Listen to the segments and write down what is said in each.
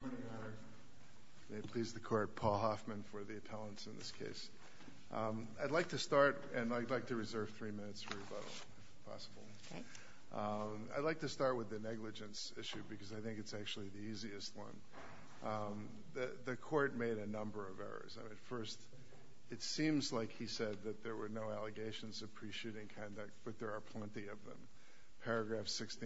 Good morning, Your Honor. May it please the Court, Paul Hoffman for the appellants in this case. I'd like to start, and I'd like to reserve three minutes for rebuttal, if possible. I'd like to start with the negligence issue, because I think it's actually the easiest one. The Court made a number of errors. First, it seems like he said that there were no allegations of pre-shooting conduct, but there are plenty of them.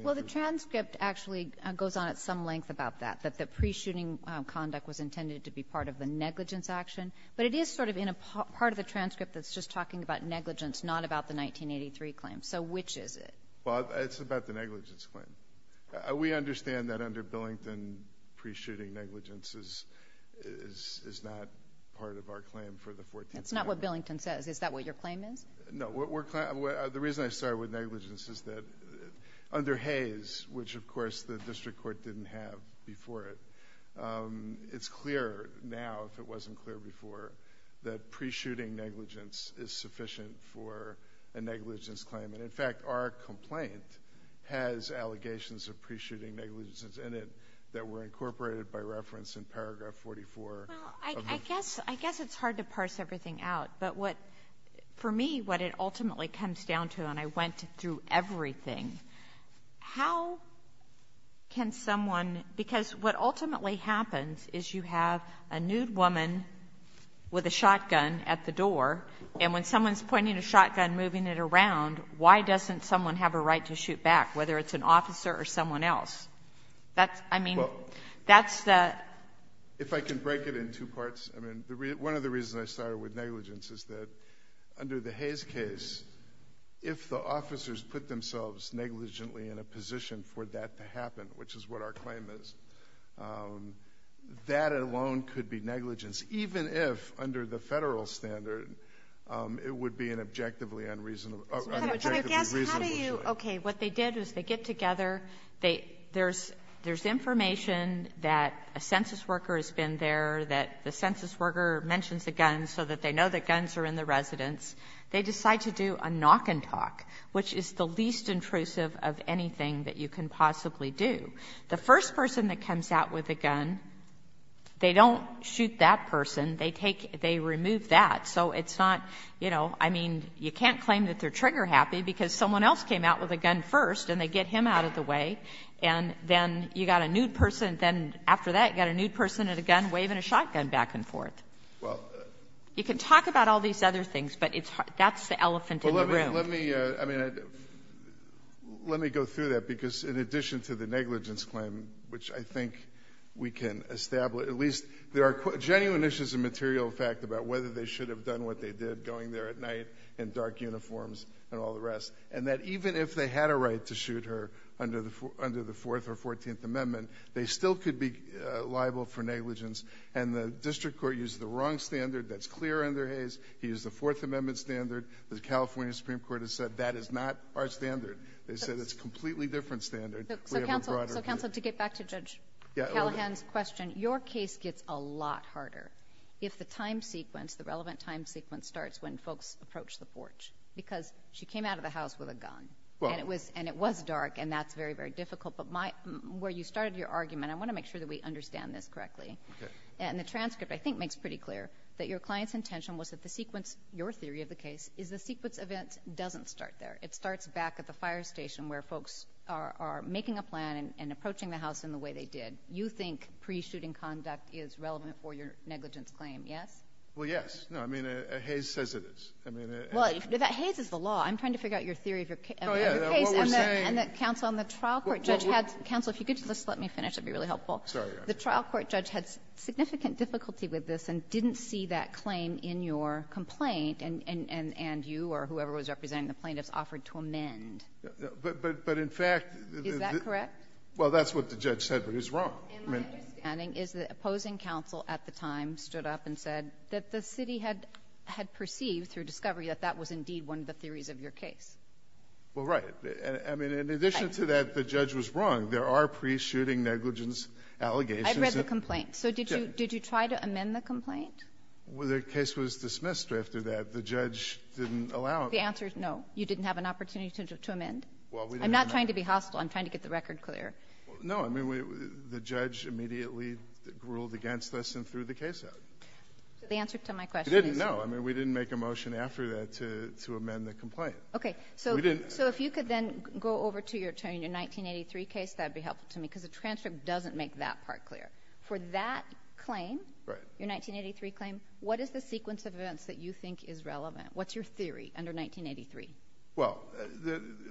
Well, the transcript actually goes on at some length about that, that the pre-shooting conduct was intended to be part of the negligence action. But it is sort of in a part of the transcript that's just talking about negligence, not about the 1983 claim. So which is it? Well, it's about the negligence claim. We understand that under Billington, pre-shooting negligence is not part of our claim for the 14th Amendment. That's not what Billington says. Is that what your claim is? No. The reason I started with negligence is that under Hayes, which of course the District Court didn't have before it, it's clear now, if it wasn't clear before, that pre-shooting negligence is sufficient for a negligence claim. And in fact, our complaint has allegations of pre-shooting negligence in it that were incorporated by reference in paragraph 44. Well, I guess it's hard to parse everything out. But what, for me, what it ultimately comes down to, and I went through everything, how can someone, because what ultimately happens is you have a nude woman with a shotgun at the door, and when someone's pointing a shotgun, moving it around, why doesn't someone have a right to shoot back, whether it's an officer or someone else? Well, if I can break it in two parts, one of the reasons I started with negligence is that under the Hayes case, if the officers put themselves negligently in a position for that to happen, which is what our claim is, that alone could be negligence, even if under the Federal standard it would be an objectively unreasonable shooting. But I guess, how do you, okay, what they did was they get together, they, there's information that a census worker has been there, that the census worker mentions the guns so that they know the guns are in the residence, they decide to do a knock and talk, which is the least intrusive of anything that you can possibly do. The first person that comes out with a gun, they don't shoot that person. They take, they remove that. So it's not, you know, I mean, you can't claim that they're trigger happy because someone else came out with a gun first and they get him out of the way, and then you got a nude person, then after that you got a nude person with a gun waving a shotgun back and forth. You can talk about all these other things, but that's the elephant in the room. Well, let me, I mean, let me go through that, because in addition to the negligence claim, which I think we can establish, at least there are genuine issues of material fact about whether they should have done what they did, going there at night in dark uniforms, and all the rest. And that even if they had a right to shoot her under the Fourth or Fourteenth Amendment, they still could be liable for negligence. And the district court used the wrong standard that's clear under Hayes. He used the Fourth Amendment standard. The California Supreme Court has said that is not our standard. They said it's a completely different standard. So counsel, to get back to Judge Callahan's question, your case gets a lot harder. If the time sequence, the relevant time sequence starts when folks approach the porch, because she came out of the house with a gun, and it was dark, and that's very, very difficult. But where you started your argument, I want to make sure that we understand this correctly. And the transcript, I think, makes pretty clear that your client's intention was that the sequence, your theory of the case, is the sequence event doesn't start there. It starts back at the fire station where folks are making a plan and approaching the house in the way they did. And you think pre-shooting conduct is relevant for your negligence claim, yes? Well, yes. No, I mean, Hayes says it is. Well, Hayes is the law. I'm trying to figure out your theory of your case. Oh, yeah. What we're saying — And the trial court judge had — counsel, if you could just let me finish, that would be really helpful. Sorry. The trial court judge had significant difficulty with this and didn't see that claim in your complaint, and you or whoever was representing the plaintiffs offered to amend. But in fact — Is that correct? Well, that's what the judge said, but he's wrong. And my understanding is that the opposing counsel at the time stood up and said that the city had perceived through discovery that that was indeed one of the theories of your case. Well, right. I mean, in addition to that, the judge was wrong. There are pre-shooting negligence allegations. I've read the complaint. So did you try to amend the complaint? Well, the case was dismissed after that. The judge didn't allow it. The answer is no. You didn't have an opportunity to amend? Well, we didn't. I'm not trying to be hostile. I'm trying to get the record clear. No. I mean, the judge immediately ruled against us and threw the case out. The answer to my question is — No. I mean, we didn't make a motion after that to amend the complaint. Okay. So if you could then go over to your attorney in your 1983 case, that would be helpful to me, because the transcript doesn't make that part clear. For that claim, your 1983 claim, what is the sequence of events that you think is relevant? What's your theory under 1983? Well,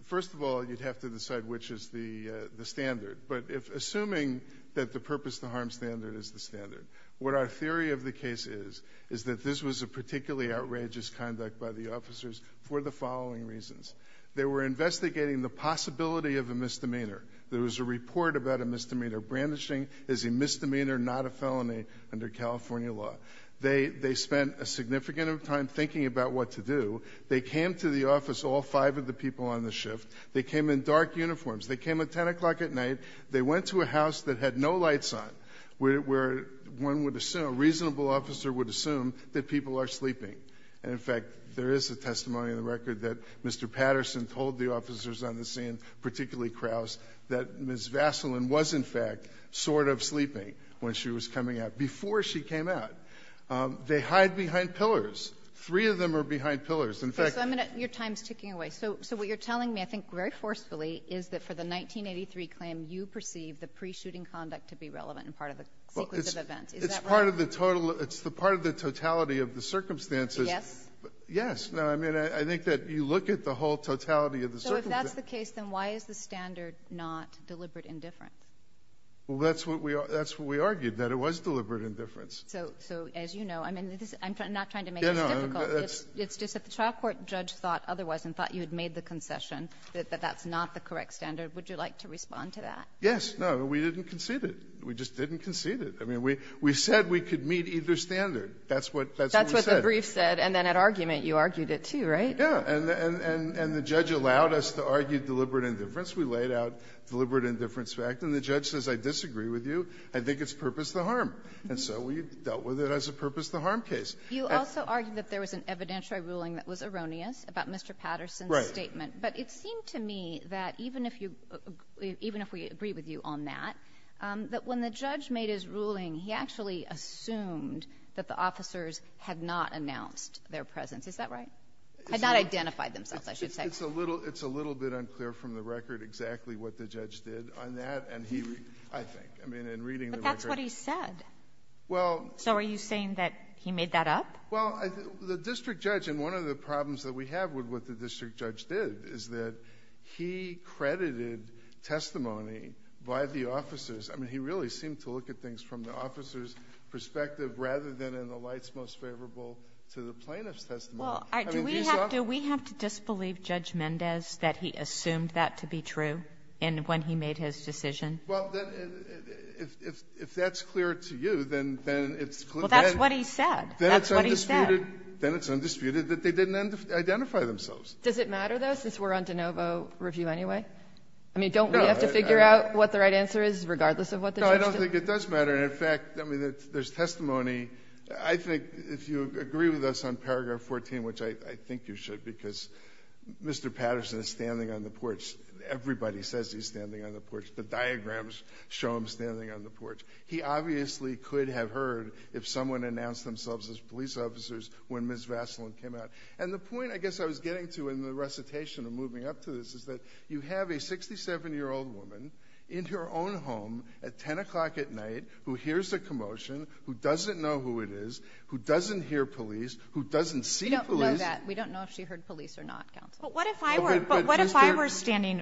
first of all, you'd have to decide which is the standard. But assuming that the purpose-to-harm standard is the standard, what our theory of the case is, is that this was a particularly outrageous conduct by the officers for the following reasons. They were investigating the possibility of a misdemeanor. There was a report about a misdemeanor. Brandishing is a misdemeanor, not a felony under California law. They spent a significant amount of time thinking about what to do. They came to the office, all five of the people on the shift. They came in dark uniforms. They came at 10 o'clock at night. They went to a house that had no lights on, where one would assume — a reasonable officer would assume that people are sleeping. And, in fact, there is a testimony in the record that Mr. Patterson told the officers on the scene, particularly Krauss, that Ms. Vaseline was, in fact, sort of sleeping when she was coming out, before she came out. They hide behind pillars. Three of them are behind pillars. In fact — Okay. So I'm going to — your time is ticking away. So what you're telling me, I think very forcefully, is that for the 1983 claim, you perceive the pre-shooting conduct to be relevant and part of a sequence of events. Is that right? Well, it's part of the total — it's the part of the totality of the circumstances. Yes? Yes. No, I mean, I think that you look at the whole totality of the circumstances. So if that's the case, then why is the standard not deliberate indifference? Well, that's what we — that's what we argued, that it was deliberate indifference. So as you know, I mean, I'm not trying to make this difficult. It's just that the trial court judge thought otherwise and thought you had made the concession that that's not the correct standard. Would you like to respond to that? Yes. No, we didn't concede it. We just didn't concede it. I mean, we said we could meet either standard. That's what we said. That's what the brief said. And then at argument, you argued it, too, right? Yeah. And the judge allowed us to argue deliberate indifference. We laid out deliberate indifference fact. And the judge says, I disagree with you. I think it's purpose to harm. And so we dealt with it as a purpose to harm case. You also argued that there was an evidentiary ruling that was erroneous about Mr. Patterson's statement. Right. But it seemed to me that even if you — even if we agree with you on that, that when the judge made his ruling, he actually assumed that the officers had not announced their presence. Is that right? Had not identified themselves, I should say. It's a little — it's a little bit unclear from the record exactly what the judge did on that. And he — I think. I mean, in reading the record — But that's what he said. Well — So are you saying that he made that up? Well, the district judge — and one of the problems that we have with what the district judge did is that he credited testimony by the officers. I mean, he really seemed to look at things from the officers' perspective rather than in the lights most favorable to the plaintiff's testimony. Well, do we have to disbelieve Judge Mendez that he assumed that to be true when he made his decision? Well, if that's clear to you, then it's clear. Well, that's what he said. That's what he said. Then it's undisputed that they didn't identify themselves. Does it matter, though, since we're on de novo review anyway? I mean, don't we have to figure out what the right answer is regardless of what the judge did? No, I don't think it does matter. And, in fact, I mean, there's testimony. I think if you agree with us on paragraph 14, which I think you should, because Mr. Patterson is standing on the porch. Everybody says he's standing on the porch. The diagrams show him standing on the porch. He obviously could have heard if someone announced themselves as police officers when Ms. Vaseline came out. And the point, I guess, I was getting to in the recitation of moving up to this is that you have a 67-year-old woman in her own home at 10 o'clock at night who hears a commotion, who doesn't know who it is, who doesn't hear police, who doesn't see police. We don't know that. We don't know if she heard police or not, Counsel. But what if I were standing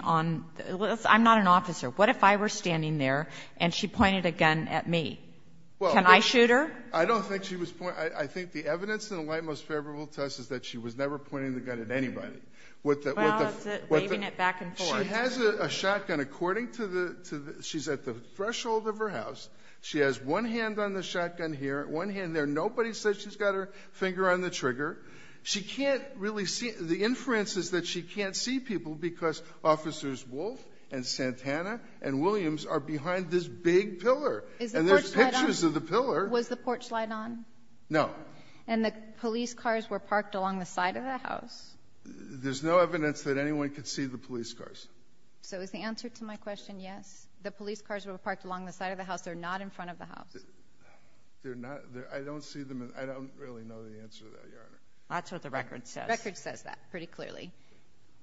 on the porch? I'm not an officer. What if I were standing there and she pointed a gun at me? Can I shoot her? I don't think she was pointing. I think the evidence in the light most favorable to us is that she was never pointing the gun at anybody. Well, it's waving it back and forth. She has a shotgun. According to the ‑‑ she's at the threshold of her house. She has one hand on the shotgun here, one hand there. Nobody said she's got her finger on the trigger. She can't really see ‑‑ the inference is that she can't see people because Officers Wolf and Santana and Williams are behind this big pillar. And there's pictures of the pillar. Was the porch light on? No. And the police cars were parked along the side of the house? There's no evidence that anyone could see the police cars. So is the answer to my question yes? The police cars were parked along the side of the house. They're not in front of the house. I don't see them. I don't really know the answer to that, Your Honor. That's what the record says. The record says that pretty clearly.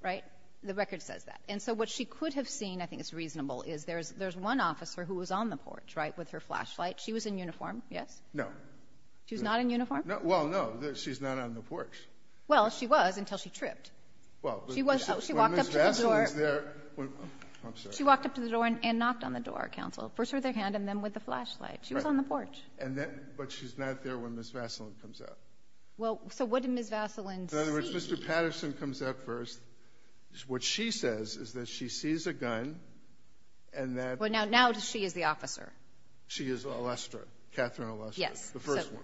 Right? The record says that. And so what she could have seen, I think it's reasonable, is there's one officer who was on the porch, right, with her flashlight. She was in uniform, yes? No. She was not in uniform? Well, no. She's not on the porch. Well, she was until she tripped. She walked up to the door and knocked on the door, Counsel. First with her hand and then with the flashlight. She was on the porch. But she's not there when Ms. Vaseline comes out. Well, so what did Ms. Vaseline see? In other words, Mr. Patterson comes out first. What she says is that she sees a gun. Well, now she is the officer. She is Alestra, Catherine Alestra, the first one.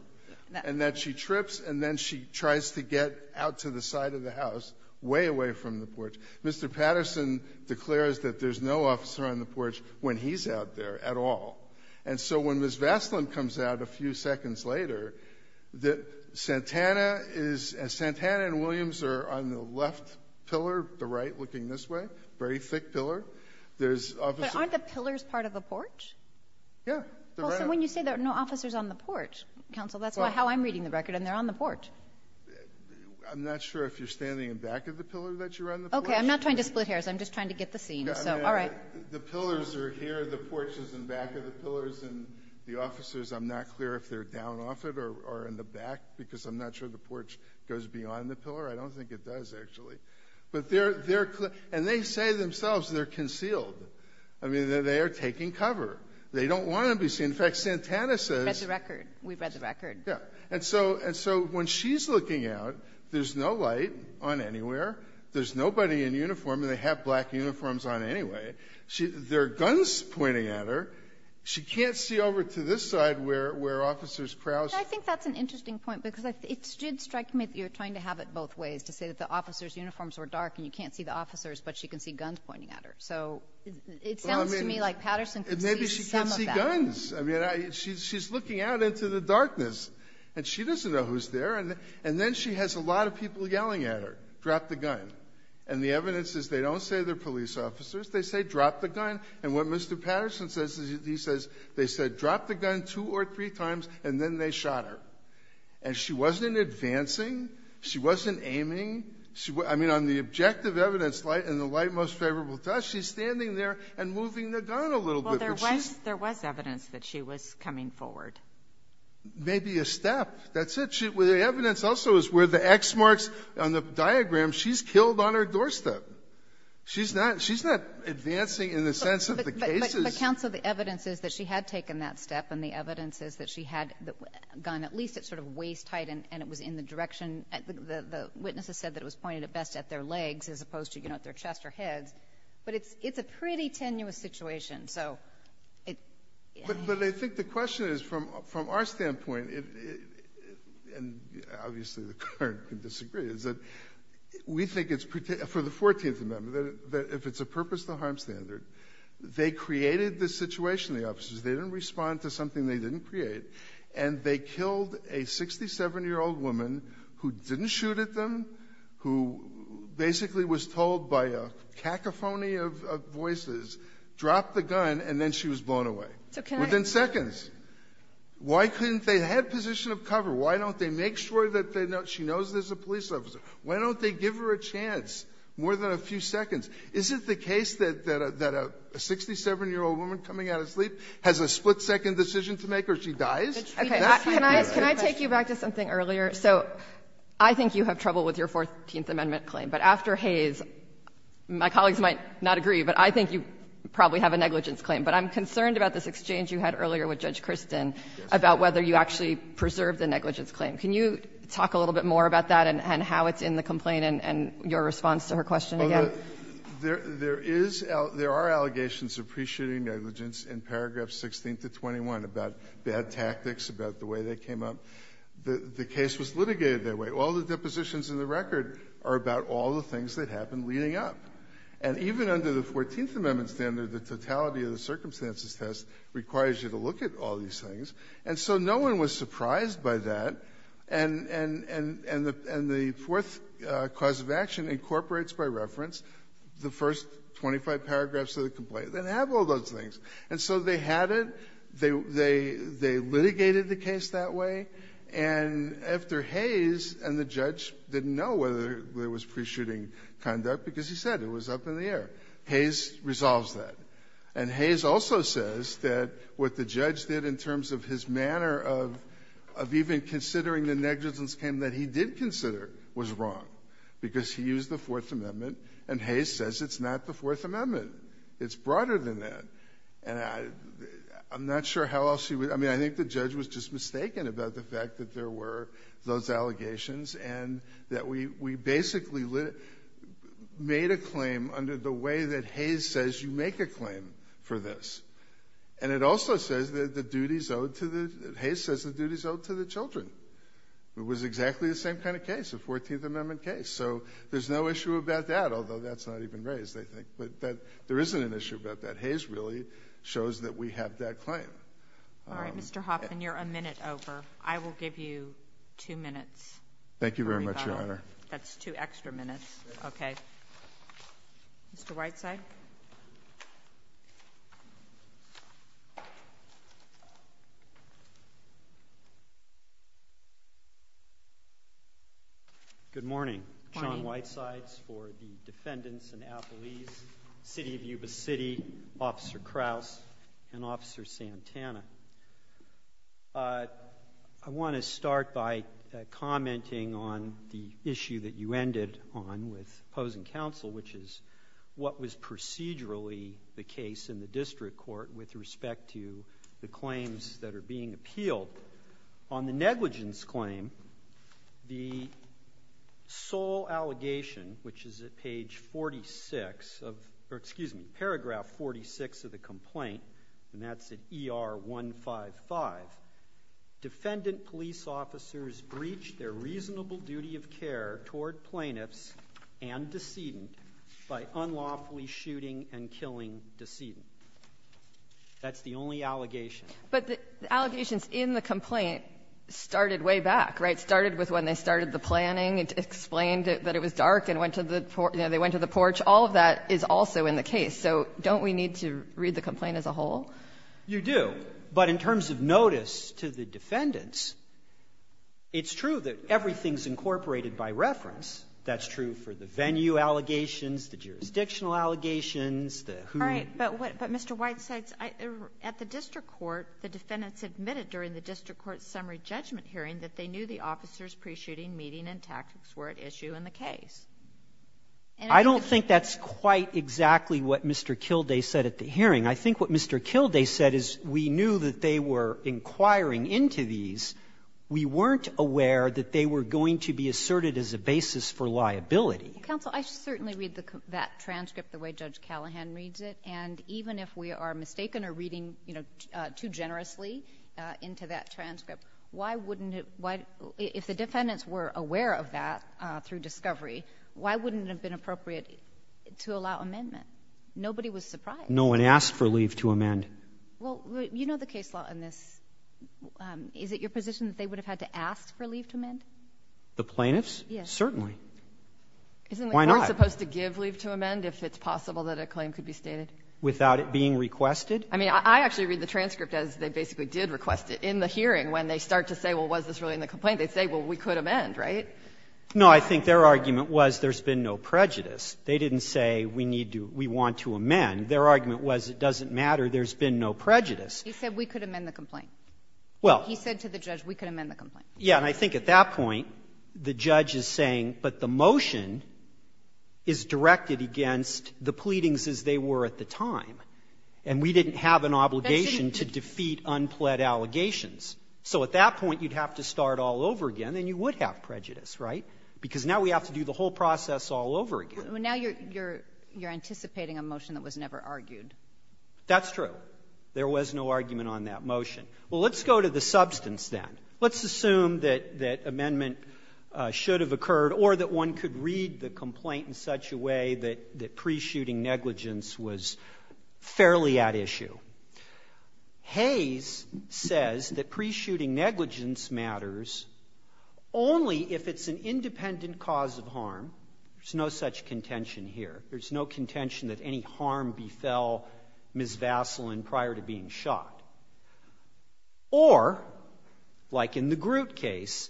Yes. And that she trips and then she tries to get out to the side of the house, way away from the porch. Mr. Patterson declares that there's no officer on the porch when he's out there at all. And so when Ms. Vaseline comes out a few seconds later, Santana and Williams are on the left pillar, the right looking this way, very thick pillar. But aren't the pillars part of the porch? Yeah. So when you say there are no officers on the porch, Counsel, that's how I'm reading the record and they're on the porch. I'm not sure if you're standing in back of the pillar that you're on the porch. Okay. I'm not trying to split hairs. I'm just trying to get the scene. All right. The pillars are here. The porch is in back of the pillars. And the officers, I'm not clear if they're down off it or in the back, because I'm not sure the porch goes beyond the pillar. I don't think it does, actually. But they're clear. And they say themselves they're concealed. I mean, they are taking cover. They don't want to be seen. In fact, Santana says. We read the record. We read the record. Yeah. And so when she's looking out, there's no light on anywhere. There's nobody in uniform. And they have black uniforms on anyway. There are guns pointing at her. She can't see over to this side where officers crouch. I think that's an interesting point because it did strike me that you're trying to have it both ways, to say that the officers' uniforms were dark and you can't see the officers, but she can see guns pointing at her. So it sounds to me like Patterson could see some of that. Maybe she can't see guns. I mean, she's looking out into the darkness. And she doesn't know who's there. And then she has a lot of people yelling at her, drop the gun. And the evidence is they don't say they're police officers. They say drop the gun. And what Mr. Patterson says is he says they said drop the gun two or three times and then they shot her. And she wasn't advancing. She wasn't aiming. I mean, on the objective evidence light and the light most favorable to us, she's standing there and moving the gun a little bit. Well, there was evidence that she was coming forward. Maybe a step. That's it. But the evidence also is where the X marks on the diagram, she's killed on her doorstep. She's not advancing in the sense of the cases. But, counsel, the evidence is that she had taken that step, and the evidence is that she had the gun at least at sort of waist height and it was in the direction the witnesses said that it was pointed at best at their legs as opposed to, you know, at their chest or heads. But it's a pretty tenuous situation. But I think the question is from our standpoint, and obviously the clerk can disagree, is that we think it's for the 14th Amendment that if it's a purpose to harm standard, they created the situation, the officers. They didn't respond to something they didn't create, and they killed a 67-year-old woman who didn't shoot at them, who basically was told by a cacophony of voices, drop the gun, and then she was blown away. Within seconds. Why couldn't they have position of cover? Why don't they make sure that she knows there's a police officer? Why don't they give her a chance more than a few seconds? Is it the case that a 67-year-old woman coming out of sleep has a split-second decision to make or she dies? Can I take you back to something earlier? So I think you have trouble with your 14th Amendment claim. But after Hayes, my colleagues might not agree, but I think you probably have a negligence claim, but I'm concerned about this exchange you had earlier with Judge Kristin about whether you actually preserved the negligence claim. Can you talk a little bit more about that and how it's in the complaint and your response to her question again? There is — there are allegations of pre-shooting negligence in paragraph 16-21 about bad tactics, about the way they came up. The case was litigated that way. All the depositions in the record are about all the things that happened leading up. And even under the 14th Amendment standard, the totality of the circumstances test requires you to look at all these things. And so no one was surprised by that. And the Fourth Cause of Action incorporates, by reference, the first 25 paragraphs of the complaint that have all those things. And so they had it. They litigated the case that way. And after Hayes and the judge didn't know whether there was pre-shooting conduct because he said it was up in the air, Hayes resolves that. And Hayes also says that what the judge did in terms of his manner of even considering the negligence claim that he did consider was wrong because he used the Fourth Amendment. And Hayes says it's not the Fourth Amendment. It's broader than that. And I'm not sure how else he would – I mean, I think the judge was just mistaken about the fact that there were those allegations and that we basically made a claim under the way that Hayes says you make a claim for this. And it also says that the duties owed to the – Hayes says the duties owed to the children. It was exactly the same kind of case, the 14th Amendment case. So there's no issue about that, although that's not even raised, I think. But there isn't an issue about that. And Hayes really shows that we have that claim. All right, Mr. Hoffman, you're a minute over. I will give you two minutes. Thank you very much, Your Honor. That's two extra minutes. Okay. Mr. Whiteside? Good morning. I'm John Whitesides for the defendants in Appalese, City of Yuba City, Officer Krauss and Officer Santana. I want to start by commenting on the issue that you ended on with opposing counsel, which is what was procedurally the case in the district court with respect to the claims that are being appealed. On the negligence claim, the sole allegation, which is at page 46 of – or, excuse me, paragraph 46 of the complaint, and that's at ER 155, defendant police officers breach their reasonable duty of care toward plaintiffs and decedent by unlawfully shooting and killing decedent. That's the only allegation. But the allegations in the complaint started way back, right? It started with when they started the planning. It explained that it was dark and went to the – you know, they went to the porch. All of that is also in the case. So don't we need to read the complaint as a whole? You do. But in terms of notice to the defendants, it's true that everything's incorporated by reference. That's true for the venue allegations, the jurisdictional allegations, the who – But, Mr. White, at the district court, the defendants admitted during the district court summary judgment hearing that they knew the officers' pre-shooting meeting and tactics were at issue in the case. I don't think that's quite exactly what Mr. Kilday said at the hearing. I think what Mr. Kilday said is we knew that they were inquiring into these. We weren't aware that they were going to be asserted as a basis for liability. Counsel, I certainly read that transcript the way Judge Callahan reads it. And even if we are mistaken or reading, you know, too generously into that transcript, why wouldn't it – if the defendants were aware of that through discovery, why wouldn't it have been appropriate to allow amendment? Nobody was surprised. No one asked for leave to amend. Well, you know the case law in this. Is it your position that they would have had to ask for leave to amend? The plaintiffs? Yes. Certainly. Why not? Isn't the court supposed to give leave to amend if it's possible that a claim could be stated? Without it being requested? I mean, I actually read the transcript as they basically did request it. In the hearing, when they start to say, well, was this really in the complaint, they say, well, we could amend, right? No. I think their argument was there's been no prejudice. They didn't say we need to – we want to amend. Their argument was it doesn't matter, there's been no prejudice. He said we could amend the complaint. Well. He said to the judge we could amend the complaint. Yeah. And I think at that point, the judge is saying, but the motion is directed against the pleadings as they were at the time. And we didn't have an obligation to defeat unpled allegations. So at that point, you'd have to start all over again, and you would have prejudice, right? Because now we have to do the whole process all over again. Well, now you're anticipating a motion that was never argued. That's true. There was no argument on that motion. Well, let's go to the substance then. Let's assume that amendment should have occurred or that one could read the complaint in such a way that pre-shooting negligence was fairly at issue. Hayes says that pre-shooting negligence matters only if it's an independent cause of harm. There's no such contention here. There's no contention that any harm befell Ms. Vaseline prior to being shot. Or, like in the Groot case,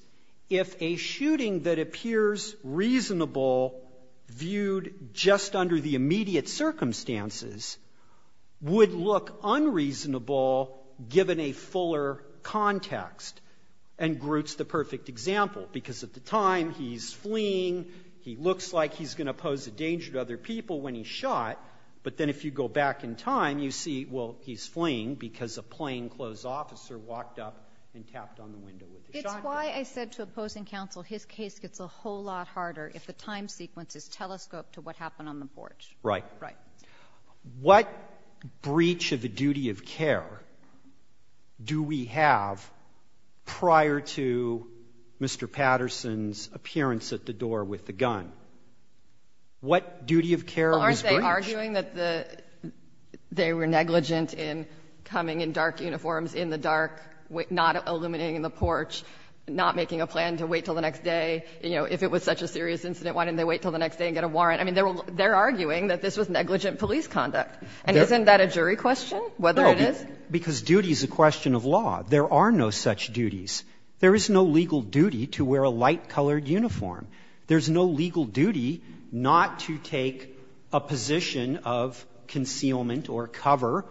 if a shooting that appears reasonable viewed just under the immediate circumstances would look unreasonable given a fuller context, and Groot's the perfect example, because at the time he's fleeing, he looks like he's going to pose a danger to other people when he's shot. But then if you go back in time, you see, well, he's fleeing because a plainclothes officer walked up and tapped on the window with a shotgun. It's why I said to opposing counsel his case gets a whole lot harder if the time sequence is telescoped to what happened on the porch. Right. Right. What breach of the duty of care do we have prior to Mr. Patterson's appearance at the door with the gun? What duty of care was breached? Aren't they arguing that they were negligent in coming in dark uniforms, in the dark, not illuminating the porch, not making a plan to wait until the next day? You know, if it was such a serious incident, why didn't they wait until the next day and get a warrant? I mean, they're arguing that this was negligent police conduct. And isn't that a jury question, whether it is? No, because duty is a question of law. There are no such duties. There is no legal duty to wear a light-colored uniform. There's no legal duty not to take a position of concealment or cover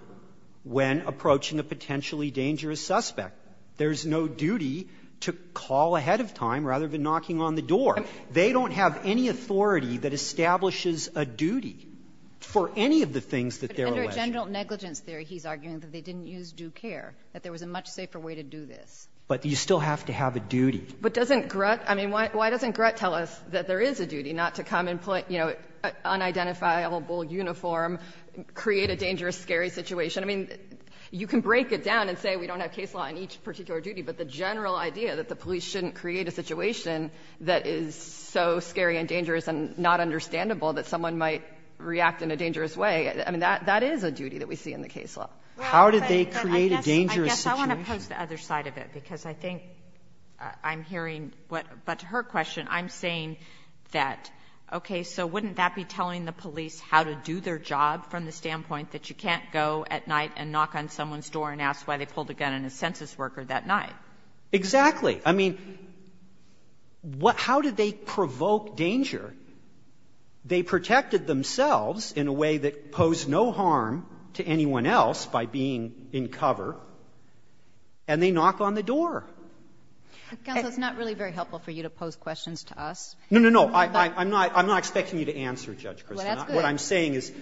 when approaching a potentially dangerous suspect. There's no duty to call ahead of time rather than knocking on the door. They don't have any authority that establishes a duty for any of the things that they're alleged. But under general negligence theory, he's arguing that they didn't use due care, that there was a much safer way to do this. But you still have to have a duty. But doesn't Grutt – I mean, why doesn't Grutt tell us that there is a duty not to come and put, you know, an unidentifiable uniform, create a dangerous, scary situation? I mean, you can break it down and say we don't have case law in each particular duty, but the general idea that the police shouldn't create a situation that is so scary and dangerous and not understandable that someone might react in a dangerous way, I mean, that is a duty that we see in the case law. How did they create a dangerous situation? I oppose the other side of it, because I think I'm hearing what – but to her question, I'm saying that, okay, so wouldn't that be telling the police how to do their job from the standpoint that you can't go at night and knock on someone's door and ask why they pulled a gun on a census worker that night? Exactly. I mean, how did they provoke danger? They protected themselves in a way that posed no harm to anyone else by being in cover. And they knock on the door. Counsel, it's not really very helpful for you to pose questions to us. No, no, no. I'm not – I'm not expecting you to answer, Judge Kristin. Well, that's good. What I'm saying is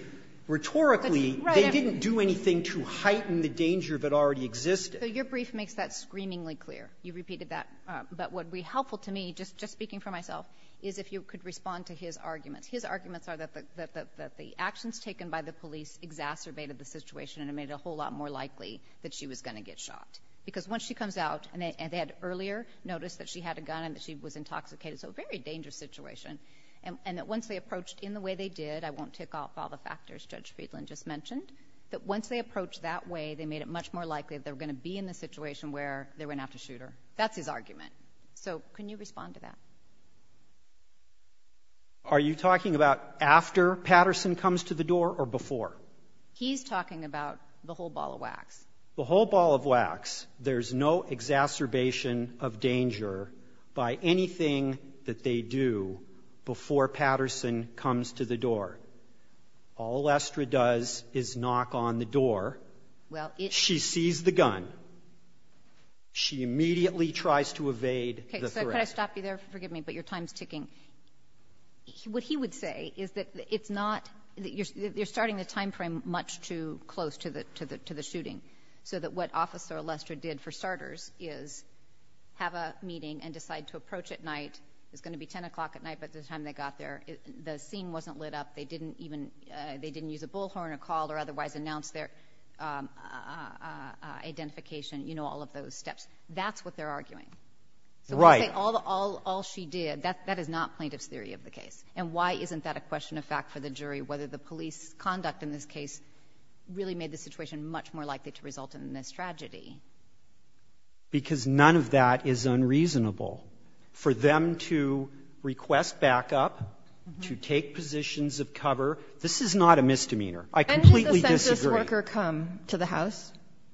rhetorically, they didn't do anything to heighten the danger that already existed. So your brief makes that screamingly clear. You repeated that. But what would be helpful to me, just speaking for myself, is if you could respond to his arguments. His arguments are that the actions taken by the police exacerbated the situation and made it a whole lot more likely that she was going to get shot. Because once she comes out – and they had earlier noticed that she had a gun and that she was intoxicated. So a very dangerous situation. And that once they approached in the way they did – I won't tick off all the factors Judge Friedland just mentioned – that once they approached that way, they made it much more likely that they were going to be in the situation where they went out to shoot her. That's his argument. So can you respond to that? Are you talking about after Patterson comes to the door or before? He's talking about the whole ball of wax. The whole ball of wax. There's no exacerbation of danger by anything that they do before Patterson comes to the door. All Lester does is knock on the door. She sees the gun. She immediately tries to evade the threat. Okay. So could I stop you there? Forgive me, but your time's ticking. What he would say is that it's not – you're starting the time frame much too close to the shooting so that what Officer Lester did for starters is have a meeting and decide to approach at night. It was going to be 10 o'clock at night by the time they got there. The scene wasn't lit up. They didn't use a bullhorn or call or otherwise announce their identification, all of those steps. That's what they're arguing. Right. All she did, that is not plaintiff's theory of the case. And why isn't that a question of fact for the jury, whether the police conduct in this case really made the situation much more likely to result in this tragedy? Because none of that is unreasonable. For them to request backup, to take positions of cover, this is not a misdemeanor. I completely disagree. When did the census worker come to the house?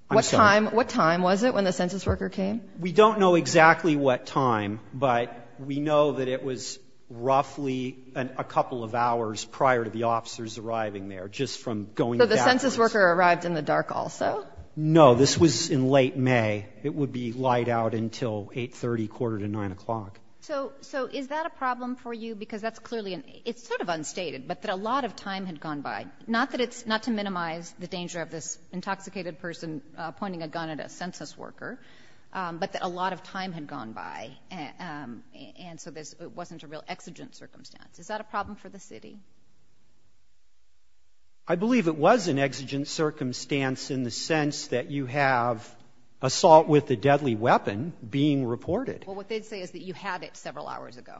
I'm sorry. What time was it when the census worker came? We don't know exactly what time, but we know that it was roughly a couple of hours prior to the officers arriving there, just from going backwards. So the census worker arrived in the dark also? No. This was in late May. It would be light out until 8.30, quarter to 9 o'clock. So is that a problem for you? Because that's clearly an ‑‑ it's sort of unstated, but that a lot of time had gone by. Not that it's ‑‑ not to minimize the danger of this intoxicated person pointing a gun at a census worker, but that a lot of time had gone by, and so this wasn't a real exigent circumstance. Is that a problem for the city? I believe it was an exigent circumstance in the sense that you have assault with a deadly weapon being reported. Well, what they say is that you had it several hours ago.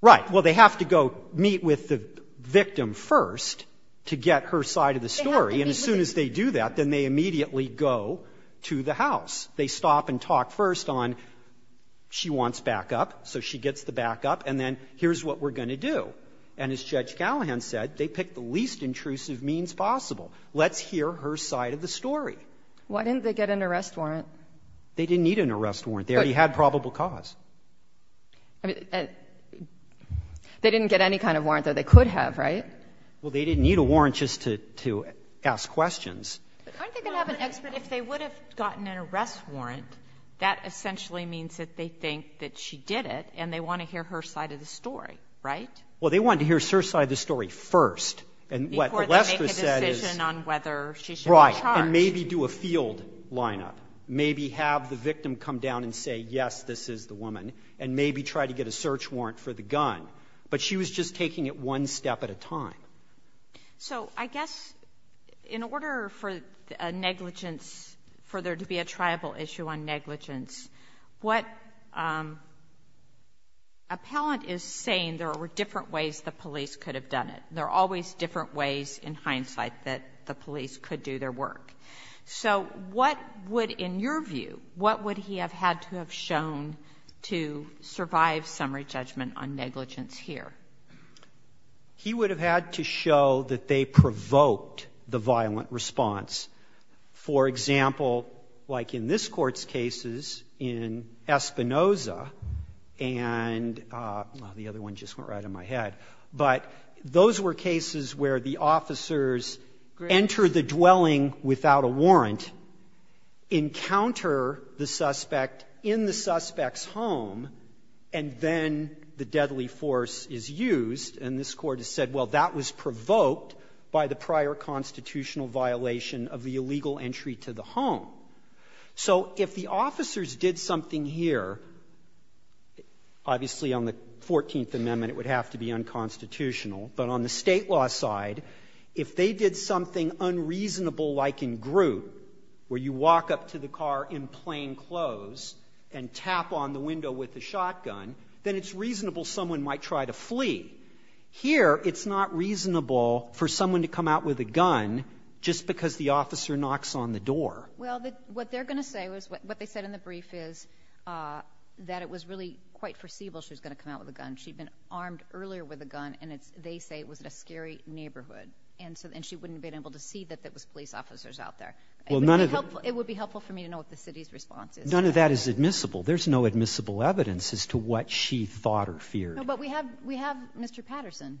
Right. Well, they have to go meet with the victim first to get her side of the story. And as soon as they do that, then they immediately go to the house. They stop and talk first on she wants backup, so she gets the backup, and then here's what we're going to do. And as Judge Gallagher said, they picked the least intrusive means possible. Let's hear her side of the story. Why didn't they get an arrest warrant? They didn't need an arrest warrant. They already had probable cause. I mean, they didn't get any kind of warrant, though. They could have, right? Well, they didn't need a warrant just to ask questions. Aren't they going to have an expert? If they would have gotten an arrest warrant, that essentially means that they think that she did it, and they want to hear her side of the story, right? Well, they wanted to hear her side of the story first. Before they make a decision on whether she should be charged. Right. And maybe do a field lineup. Maybe have the victim come down and say, yes, this is the woman, and maybe try to get a search warrant for the gun. But she was just taking it one step at a time. So I guess in order for negligence, for there to be a tribal issue on negligence, what Appellant is saying, there were different ways the police could have done it. There are always different ways in hindsight that the police could do their work. So what would, in your view, what would he have had to have shown to survive summary judgment on negligence here? He would have had to show that they provoked the violent response. For example, like in this Court's cases, in Espinoza, and the other one just went right in my head. But those were cases where the officers enter the dwelling without a warrant, encounter the suspect in the suspect's home, and then the deadly force is used. And this Court has said, well, that was provoked by the prior constitutional violation of the illegal entry to the home. So if the officers did something here, obviously on the Fourteenth Amendment it would have to be unconstitutional. But on the state law side, if they did something unreasonable like in Groot, where you walk up to the car in plain clothes and tap on the window with a shotgun, then it's reasonable someone might try to flee. Here, it's not reasonable for someone to come out with a gun just because the officer knocks on the door. Well, what they're going to say, what they said in the brief is that it was earlier with a gun, and they say it was in a scary neighborhood. And she wouldn't have been able to see that there was police officers out there. It would be helpful for me to know what the city's response is. None of that is admissible. There's no admissible evidence as to what she thought or feared. But we have Mr. Patterson.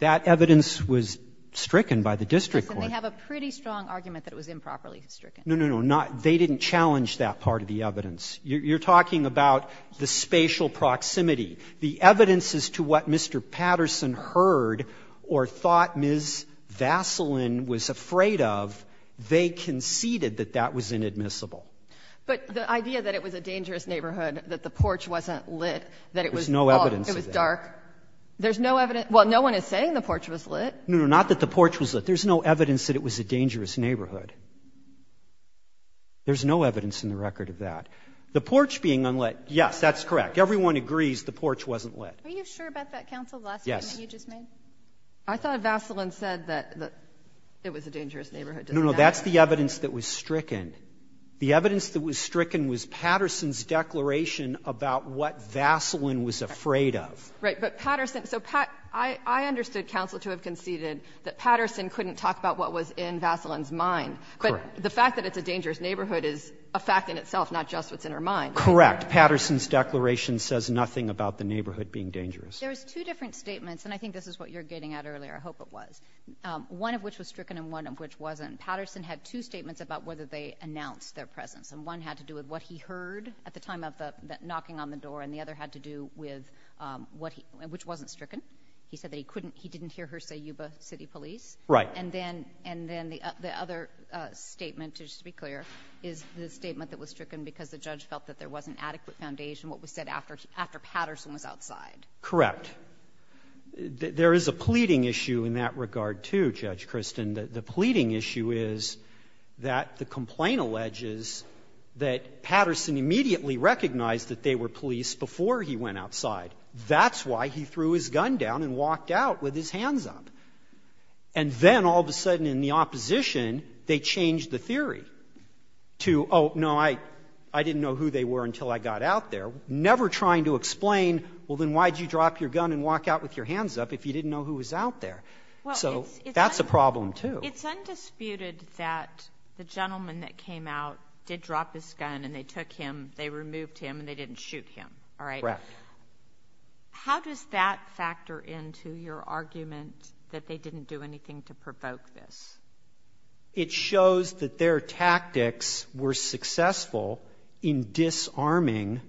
That evidence was stricken by the district court. They have a pretty strong argument that it was improperly stricken. No, no, no. They didn't challenge that part of the evidence. You're talking about the spatial proximity. The evidence as to what Mr. Patterson heard or thought Ms. Vaseline was afraid of, they conceded that that was inadmissible. But the idea that it was a dangerous neighborhood, that the porch wasn't lit, that it was dark. There's no evidence of that. There's no evidence. Well, no one is saying the porch was lit. No, no, not that the porch was lit. There's no evidence that it was a dangerous neighborhood. There's no evidence in the record of that. The porch being unlit, yes, that's correct. Everyone agrees the porch wasn't lit. Are you sure about that, counsel, the last statement you just made? Yes. I thought Vaseline said that it was a dangerous neighborhood. No, no. That's the evidence that was stricken. The evidence that was stricken was Patterson's declaration about what Vaseline was afraid of. Right. But Patterson. So I understood counsel to have conceded that Patterson couldn't talk about what was in Vaseline's mind. Correct. But the fact that it's a dangerous neighborhood is a fact in itself, not just what's in her mind. Correct. But Patterson's declaration says nothing about the neighborhood being dangerous. There's two different statements, and I think this is what you were getting at earlier. I hope it was. One of which was stricken and one of which wasn't. Patterson had two statements about whether they announced their presence. And one had to do with what he heard at the time of the knocking on the door, and the other had to do with what he, which wasn't stricken. He said that he couldn't, he didn't hear her say Yuba City Police. Right. And then the other statement, just to be clear, is the statement that was stricken because the judge felt that there wasn't adequate foundation, what was said after Patterson was outside. Correct. There is a pleading issue in that regard, too, Judge Kristin. The pleading issue is that the complaint alleges that Patterson immediately recognized that they were police before he went outside. That's why he threw his gun down and walked out with his hands up. And then all of a sudden in the opposition, they changed the theory to, oh, no, I didn't know who they were until I got out there, never trying to explain, well, then why did you drop your gun and walk out with your hands up if you didn't know who was out there? So that's a problem, too. It's undisputed that the gentleman that came out did drop his gun and they took him, they removed him, and they didn't shoot him, all right? Correct. How does that factor into your argument that they didn't do anything to provoke this? It shows that their tactics were successful in disarming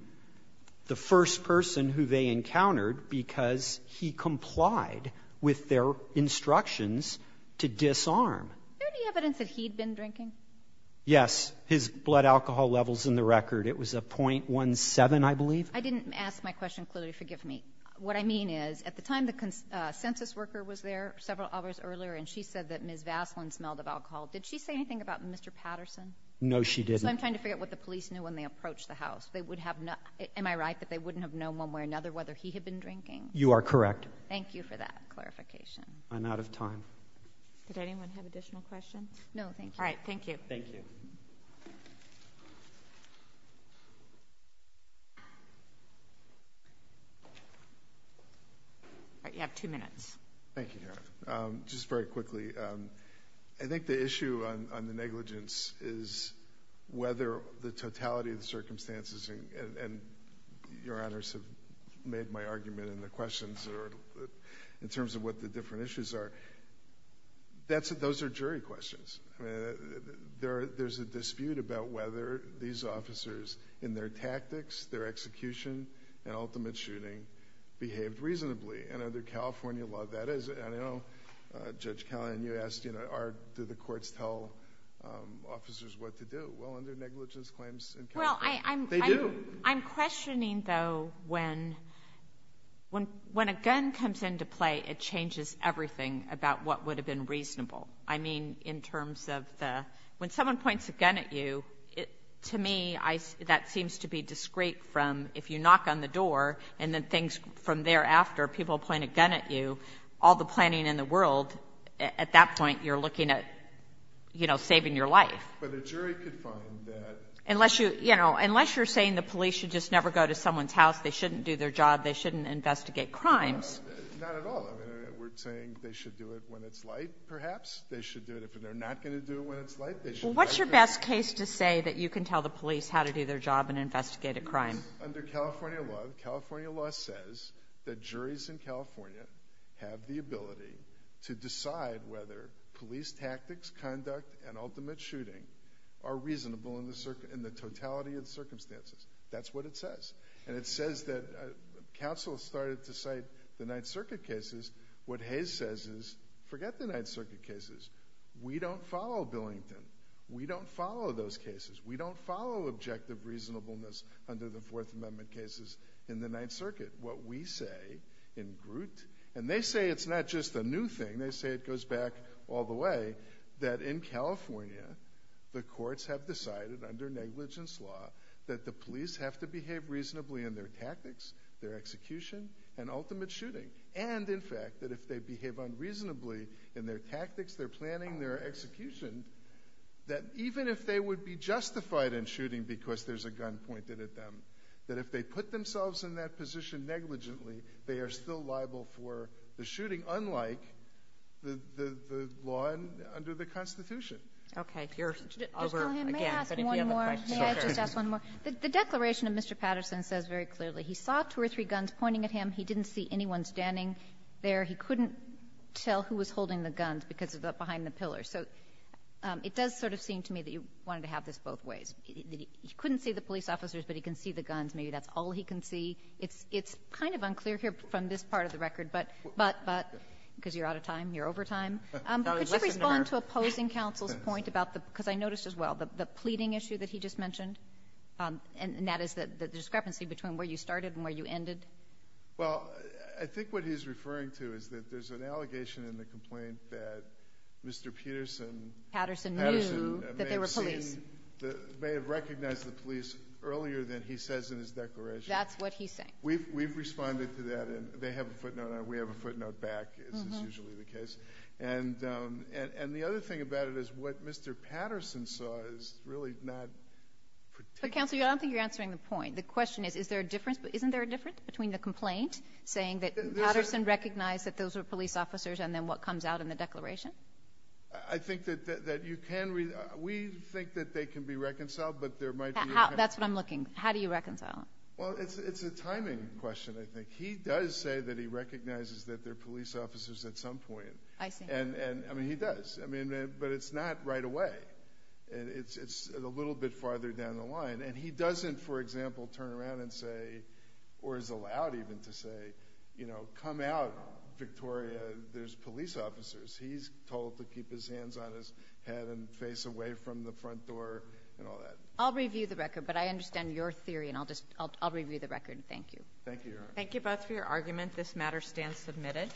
the first person who they encountered because he complied with their instructions to disarm. Is there any evidence that he'd been drinking? Yes. His blood alcohol level is in the record. It was a .17, I believe. I didn't ask my question clearly. Forgive me. What I mean is at the time the census worker was there several hours earlier and she said that Ms. Vaslin smelled of alcohol. Did she say anything about Mr. Patterson? No, she didn't. So I'm trying to figure out what the police knew when they approached the house. Am I right that they wouldn't have known one way or another whether he had been drinking? You are correct. Thank you for that clarification. I'm out of time. Did anyone have additional questions? No, thank you. All right, thank you. Thank you. All right, you have two minutes. Thank you, Karen. Just very quickly, I think the issue on the negligence is whether the totality of the circumstances, and your honors have made my argument in the questions in terms of what the different issues are, those are jury questions. There's a dispute about whether these officers in their tactics, their execution, and ultimate shooting behaved reasonably. And under California law, that is. Judge Callahan, you asked, do the courts tell officers what to do? Well, under negligence claims in California, they do. I'm questioning, though, when a gun comes into play, it changes everything about what would have been reasonable. I mean, in terms of the... when someone points a gun at you, to me, that seems to be discreet from... if you knock on the door, and then things... from thereafter, people point a gun at you, all the planning in the world, at that point, you're looking at, you know, saving your life. But a jury could find that... Unless you're saying the police should just never go to someone's house, they shouldn't do their job, they shouldn't investigate crimes. Not at all. I mean, we're saying they should do it when it's light, perhaps. They should do it if they're not going to do it when it's light. Well, what's your best case to say that you can tell the police how to do their job and investigate a crime? Under California law, California law says that juries in California have the ability to decide whether police tactics, conduct, and ultimate shooting are reasonable in the totality of the circumstances. That's what it says. And it says that... counsel started to cite the Ninth Circuit cases. What Hayes says is, forget the Ninth Circuit cases. We don't follow Billington. We don't follow those cases. We don't follow objective reasonableness under the Fourth Amendment cases in the Ninth Circuit. What we say in Groot... And they say it's not just a new thing. They say it goes back all the way, that in California, the courts have decided, under negligence law, that the police have to behave reasonably in their tactics, their execution, and ultimate shooting. And, in fact, that if they behave unreasonably in their tactics, their planning, their execution, that even if they would be justified in shooting because there's a gun pointed at them, that if they put themselves in that position negligently, they are still liable for the shooting, unlike the law under the Constitution. Okay. Over again. But if you have a question... May I ask one more? Sure. May I just ask one more? The declaration of Mr. Patterson says very clearly, he saw two or three guns pointing at him. He didn't see anyone standing there. He couldn't tell who was holding the guns because of the... behind the pillars. So, it does sort of seem to me that you wanted to have this both ways. He couldn't see the police officers, but he can see the guns. Maybe that's all he can see. It's kind of unclear here from this part of the record, but... because you're out of time. You're over time. Could you respond to opposing counsel's point about the... because I noticed as well, the pleading issue that he just mentioned, and that is the discrepancy between where you started and where you ended? Well, I think what he's referring to is that there's an allegation in the complaint that Mr. Peterson... Patterson knew that there were police. Patterson may have seen... may have recognized the police earlier than he says in his declaration. That's what he's saying. We've responded to that, and they have a footnote, and we have a footnote back, as is usually the case. And the other thing about it is what Mr. Patterson saw is really not... But, Counselor, I don't think you're answering the point. The question is, is there a difference... isn't there a difference between the complaint saying that Patterson recognized that those were police officers and then what comes out in a declaration? I think that you can... we think that they can be reconciled, but there might be... That's what I'm looking. How do you reconcile them? Well, it's a timing question, I think. He does say that he recognizes that they're police officers at some point. I see. And, I mean, he does. I mean, but it's not right away. It's a little bit farther down the line. And he doesn't, for example, turn around and say, or is allowed even to say, you know, Victoria, there's police officers. He's told to keep his hands on his head and face away from the front door and all that. I'll review the record, but I understand your theory, and I'll just... I'll review the record. Thank you. Thank you, Your Honor. Thank you both for your argument. This matter stands submitted.